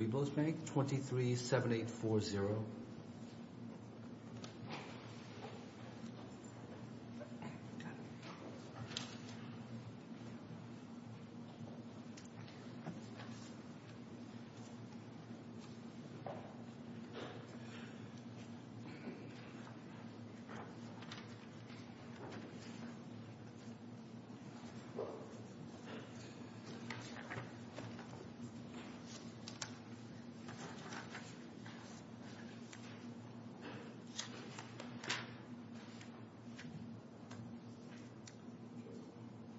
Byblos Bank S.A.L.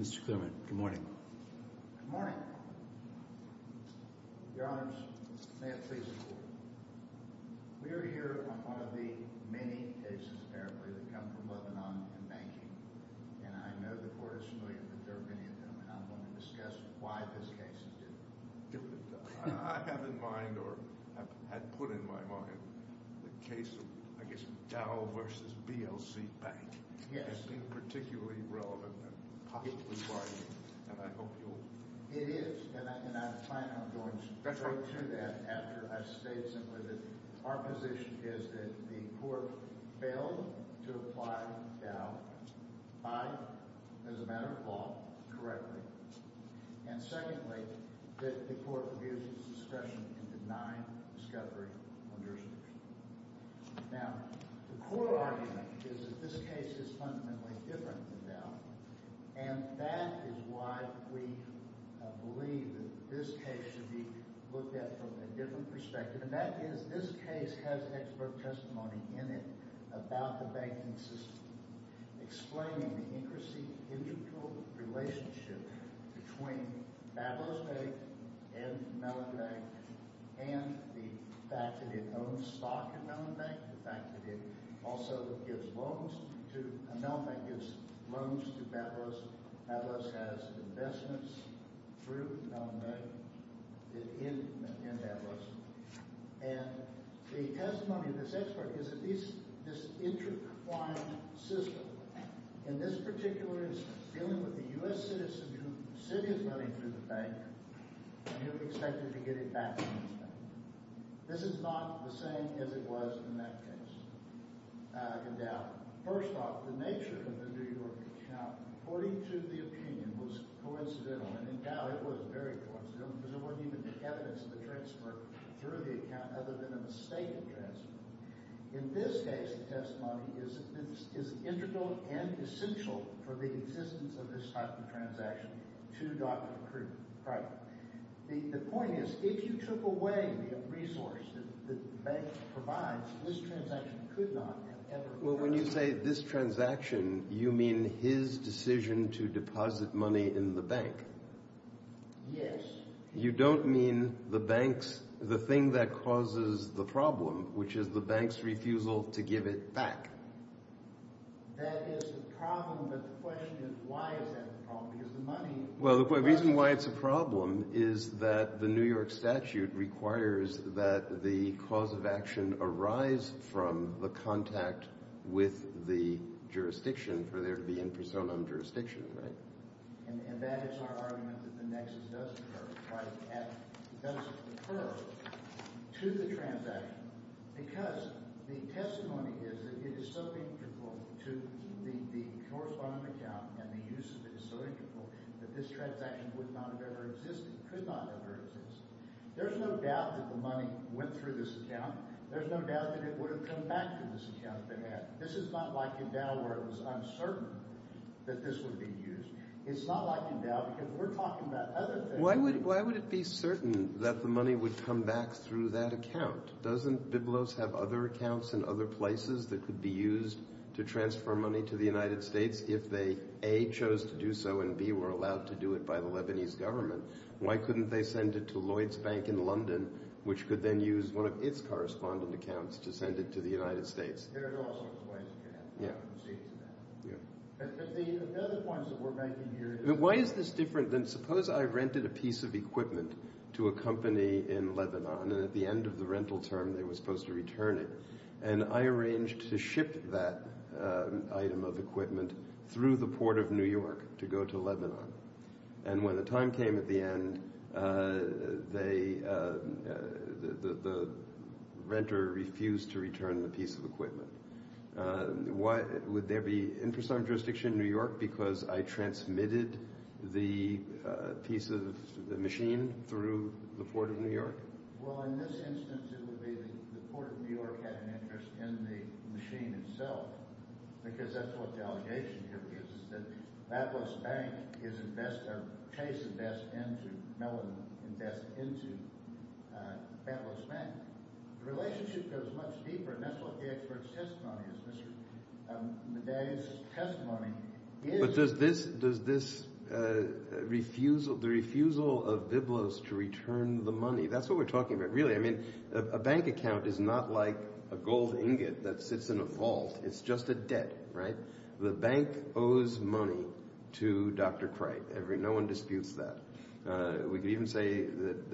Mr. Clearman, good morning. Good morning. Your Honors, may it please the Court. We are here on one of the many cases apparently that come from Lebanon in banking, and I know the Court is familiar with many of them, and I'm going to discuss why this case is different. I have in mind, or have put in my mind, the case of, I guess, Dow v. BLC Bank. Yes. It seemed particularly relevant, and possibly why, and I hope you'll... It is, and I plan on going straight to that after I've stated simply that our position is that the Court failed to apply Dow as a matter of law correctly, and secondly, that the Court abuses discretion in denying discovery on jurisdictions. Now, the core argument is that this case is fundamentally different than Dow, and that is why we believe that this case should be looked at from a different perspective, and that is, this case has expert testimony in it about the banking system, explaining the interesting mutual relationship between Bablos Bank and Mellon Bank, and the fact that it owns stock at Mellon Bank, and the fact that it also gives loans to, Mellon Bank gives And the testimony of this expert is at least this intertwined system, and this particular is dealing with a U.S. citizen whose city is running through the bank, and you're expected to get it back from this bank. This is not the same as it was in that case, in Dow. First off, the nature of the New York account, according to the opinion, was coincidental, and in Dow it was very coincidental, because there wasn't even evidence of the transfer through the account other than a mistake in transfer. In this case, the testimony is integral and essential for the existence of this type of transaction to Dr. Krugman. The point is, if you took away the resource that the bank provides, this transaction could not have ever occurred. Well, when you say this transaction, you mean his decision to deposit money in the bank. Yes. You don't mean the bank's, the thing that causes the problem, which is the bank's refusal to give it back. That is the problem, but the question is, why is that the problem? Because the money Well, the reason why it's a problem is that the New York statute requires that the cause of action arise from the contact with the jurisdiction for there to be in personam jurisdiction, right? And that is our argument that the nexus does occur, right, and does occur to the transaction, because the testimony is that it is so integral to the corresponding account and the use of it is so integral that this transaction would not have ever existed, could not have ever existed. There's no doubt that the money went through this account. There's no doubt that it would have come back through this account if it had. This is not like in Dow where it was uncertain that this would be used. It's not like in Dow because we're talking about other things. Why would it be certain that the money would come back through that account? Doesn't Biblos have other accounts in other places that could be used to transfer money to the United States if they, A, chose to do so and, B, were allowed to do it by the Lebanese government? Why couldn't they send it to Lloyd's Bank in London, which could then use one of its correspondent accounts to send it to the United States? There are all sorts of ways that you have to go from state to state. But the other points that we're making here is... Why is this different than suppose I rented a piece of equipment to a company in Lebanon and at the end of the rental term they were supposed to return it, and I arranged to ship that item of equipment through the port of New York to go to Lebanon, and when the time What, would there be interest on jurisdiction in New York because I transmitted the piece of the machine through the port of New York? Well, in this instance it would be the port of New York had an interest in the machine itself, because that's what the allegation here is, is that Battleston Bank is a case of that's into Lebanon, that's into Battleston Bank. The relationship goes much deeper, and that's what the expert's testimony is. Mr. Medea's testimony is... But does this refusal, the refusal of Biblos to return the money, that's what we're talking about, really. I mean, a bank account is not like a gold ingot that sits in a vault. It's just a debt, right? The bank owes money to Dr. Craig. No one disputes that. We can even say that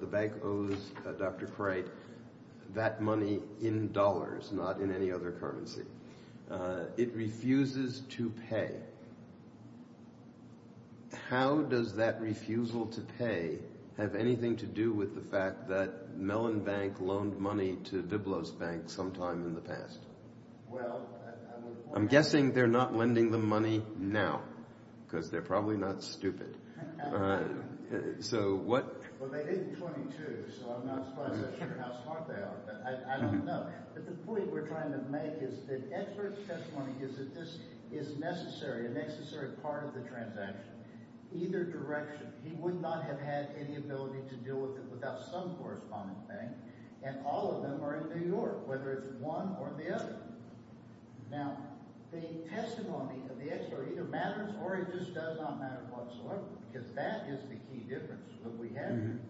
the bank owes Dr. Craig that money in dollars, not in any other currency. It refuses to pay. How does that refusal to pay have anything to do with the fact that Mellon Bank loaned money to Biblos Bank sometime in the past? Well... I'm guessing they're not lending them money now, because they're probably not stupid. Well, they did in 22, so I'm not quite so sure how smart they are, but I don't know. But the point we're trying to make is that expert's testimony is that this is necessary, a necessary part of the transaction, either direction. He would not have had any ability to deal with it without some corresponding bank, and all of them are in New York, whether it's one or the other. Now, the testimony of the expert either matters or it just does not matter whatsoever, because that is the key difference that we have here,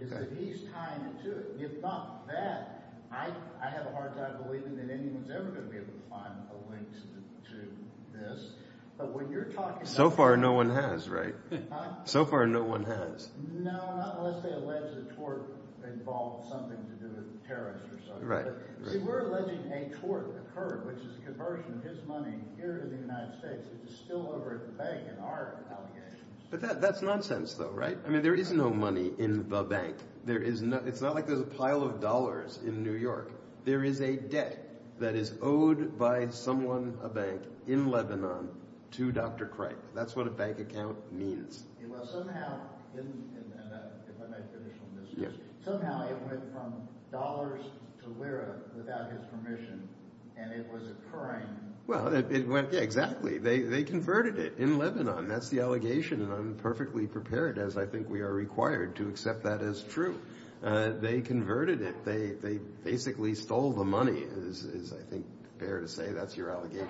is that he's tying it to it. If not that, I have a hard time believing that anyone's ever going to be able to find a link to this, but when you're talking... So far, no one has, right? Huh? So far, no one has. No, not unless they allege the tort involved something to do with terrorists or something. Right, right. See, we're alleging a tort occurred, which is a conversion of his money here to the United States, which is still over at the bank in our allegations. But that's nonsense, though, right? I mean, there is no money in the bank. It's not like there's a pile of dollars in New York. There is a debt that is owed by someone, a bank, in Lebanon to Dr. Cripe. That's what a bank account means. Well, somehow, if I might finish on this, somehow it went from dollars to lira without his permission, and it was occurring... Well, it went... Yeah, exactly. They converted it in Lebanon. That's the allegation, and I'm perfectly prepared, as I think we are required to accept that as true. They converted it. They basically stole the money, as I think is fair to say. That's your allegation.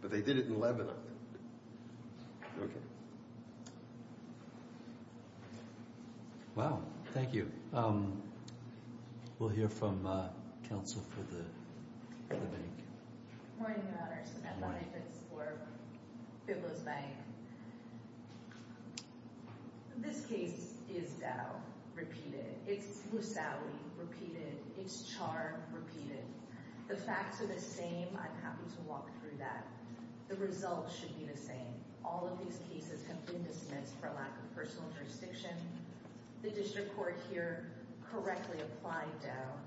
But they did it in Lebanon. Okay. Wow. Thank you. We'll hear from counsel for the bank. Good morning, Your Honors. Good morning. I'm Bonnie Fitzgibbon for Biblos Bank. This case is doubt, repeated. It's Musawi, repeated. It's charred, repeated. The facts are the same. I'm happy to walk through that. The results should be the same. All of these cases have been dismissed for lack of personal jurisdiction. The district court here correctly applied doubt.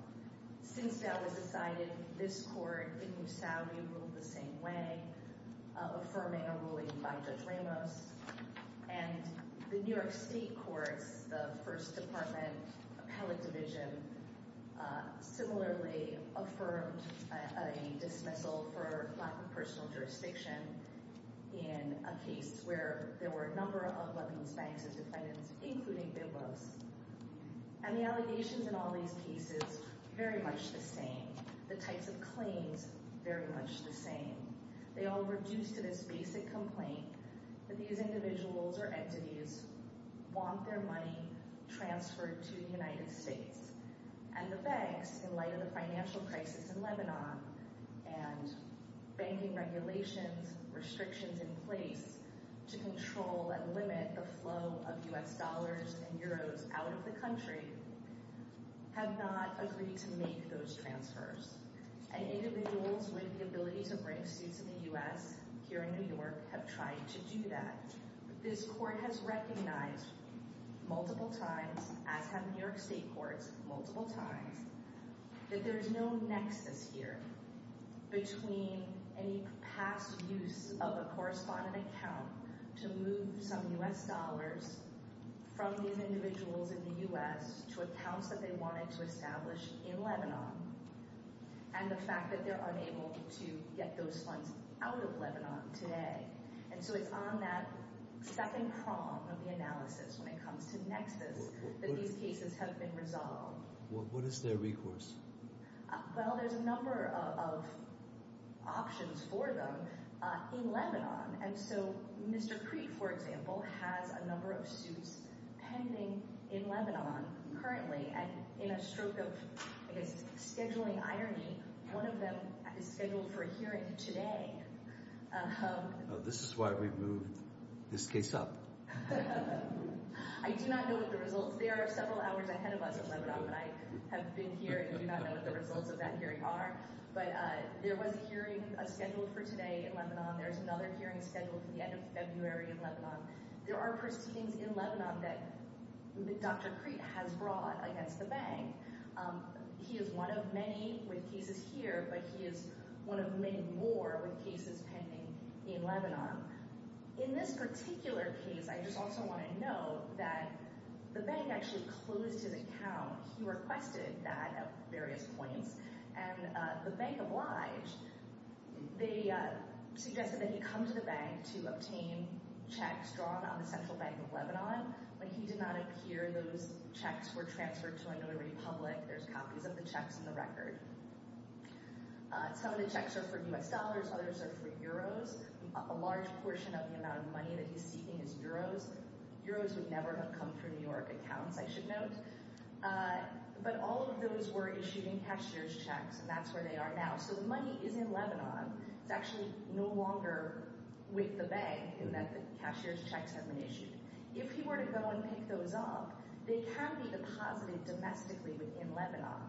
Since doubt was decided, this court in Musawi ruled the same way, affirming a ruling by Judge Ramos. And the New York State courts, the First Department Appellate Division, similarly affirmed a dismissal for lack of personal jurisdiction in a case where there were a number of Lebanese banks as defendants, including Biblos. And the allegations in all these cases, very much the same. The types of claims, very much the same. They all reduce to this basic complaint that these individuals or entities want their money transferred to the United States. And the banks, in light of the financial crisis in Lebanon and banking regulations, restrictions in place to control and limit the flow of U.S. dollars and euros out of the country, have not agreed to make those transfers. And individuals with the ability to bring suits in the U.S. here in New York have tried to do that. This court has recognized multiple times, as have New York State courts multiple times, that there's no nexus here between any past use of a correspondent account to move some U.S. dollars from these individuals in the U.S. to accounts that they wanted to establish in Lebanon, and the fact that they're unable to get those funds out of Lebanon today. And so it's on that second prong of the analysis when it comes to nexus that these cases have been resolved. What is their recourse? Well, there's a number of options for them in Lebanon. And so Mr. Crete, for example, has a number of suits pending in Lebanon currently, and in a stroke of, I guess, scheduling irony, one of them is scheduled for a hearing today. This is why we moved this case up. I do not know the results. There are several hours ahead of us in Lebanon, but I have been here and do not know what the results of that hearing are. But there was a hearing scheduled for today in Lebanon. There's another hearing scheduled for the end of February in Lebanon. There are proceedings in Lebanon that Dr. Crete has brought against the bank. He is one of many with cases here, but he is one of many more with cases pending in Lebanon. In this particular case, I just also want to note that the bank actually closed his account. He requested that at various points, and the bank obliged. They suggested that he come to the bank to obtain checks drawn on the Central Bank of Lebanon. When he did not appear, those checks were transferred to another republic. There's copies of the checks in the record. Some of the checks are for U.S. dollars. Others are for euros. A large portion of the amount of money that he's seeking is euros. Euros would never have come through New York accounts, I should note. But all of those were issued in cashier's checks, and that's where they are now. So the money is in Lebanon. It's actually no longer with the bank in that the cashier's checks have been issued. If he were to go and pick those up, they can be deposited domestically within Lebanon,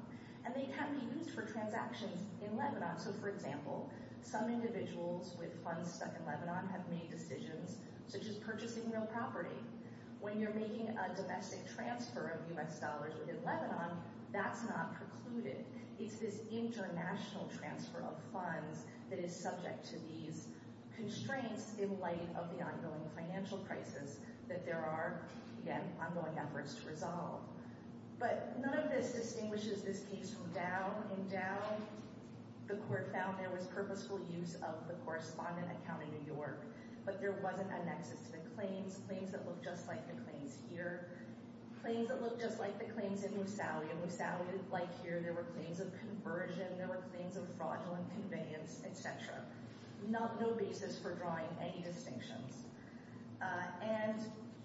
and they can be used for transactions in Lebanon. So, for example, some individuals with funds stuck in Lebanon have made decisions such as purchasing real property. When you're making a domestic transfer of U.S. dollars within Lebanon, that's not precluded. It's this international transfer of funds that is subject to these constraints in light of the ongoing financial crisis that there are, again, ongoing efforts to resolve. But none of this distinguishes this case from Dow. In Dow, the court found there was purposeful use of the correspondent account in New York, but there wasn't a nexus to the claims, claims that look just like the claims here, claims that look just like the claims in Moussaoui. In Moussaoui, like here, there were claims of conversion. There were claims of fraudulent conveyance, et cetera. No basis for drawing any distinctions. And,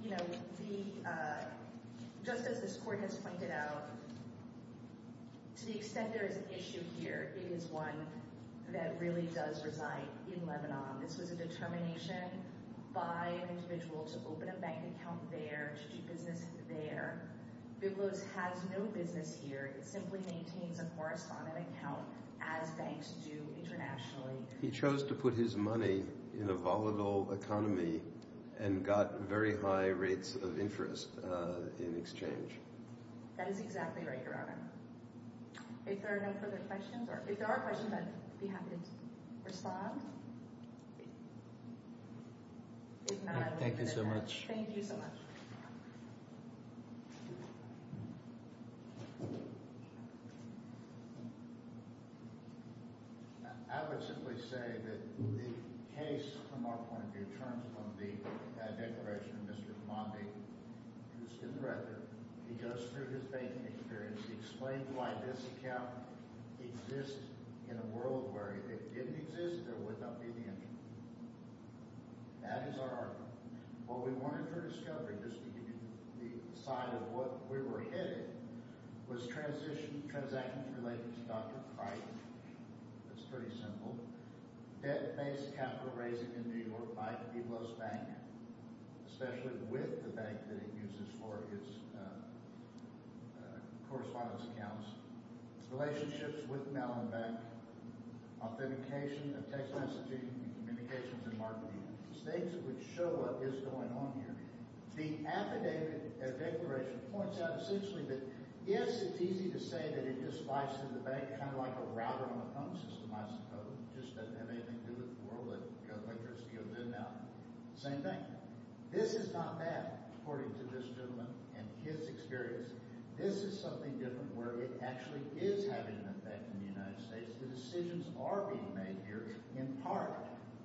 you know, just as this court has pointed out, to the extent there is an issue here, it is one that really does reside in Lebanon. This was a determination by an individual to open a bank account there, to do business there. Biblos has no business here. It simply maintains a correspondent account, as banks do internationally. He chose to put his money in a volatile economy and got very high rates of interest in exchange. That is exactly right, Your Honor. If there are no further questions, or if there are questions, I'd be happy to respond. Thank you so much. Thank you so much. I would simply say that the case, from our point of view, in terms of the declaration of Mr. Khamamdi, who's been the record, he goes through his banking experience. He explains why this account exists in a world where if it didn't exist, there would not be the interest. That is our argument. What we wanted for discovery, just to give you the side of what we were hitting, was transactions related to Dr. Crichton. That's pretty simple. Debt-based capital raising in New York by Biblos Bank, especially with the bank that it uses for its correspondence accounts. Relationships with Mellon Bank. Authentication of text messaging and communications and marketing. These things would show what is going on here. The affidavit, the declaration, points out essentially that, yes, it's easy to say that it just flies through the bank kind of like a router on a phone system, I suppose. It just doesn't have anything to do with the world that Government Insurance Scales is in now. Same thing. This is not that, according to this gentleman and his experience. This is something different where it actually is having an effect in the United States. The decisions are being made here, in part,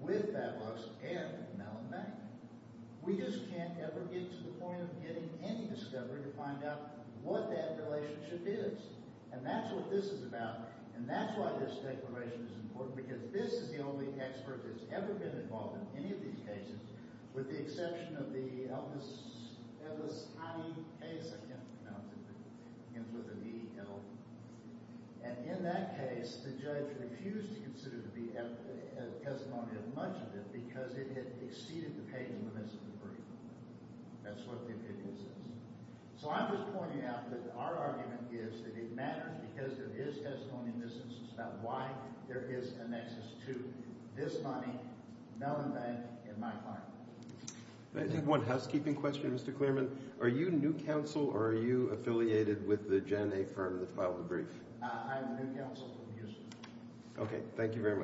with Bablux and Mellon Bank. We just can't ever get to the point of getting any discovery to find out what that relationship is. And that's what this is about. And that's why this declaration is important, because this is the only expert that's ever been involved in any of these cases, with the exception of the Elvis Hyde case. I can't pronounce it. It ends with an E-L. And in that case, the judge refused to consider the testimony of much of it because it had exceeded the page of the misdemeanor brief. That's what the affidavit says. So I'm just pointing out that our argument is that it matters because there is testimony in this instance about why there is a nexus to this money, Mellon Bank, and my client. Can I take one housekeeping question, Mr. Clearman? Are you new counsel, or are you affiliated with the Gen-A firm that filed the brief? I'm the new counsel. Okay. Thank you very much. Thank you.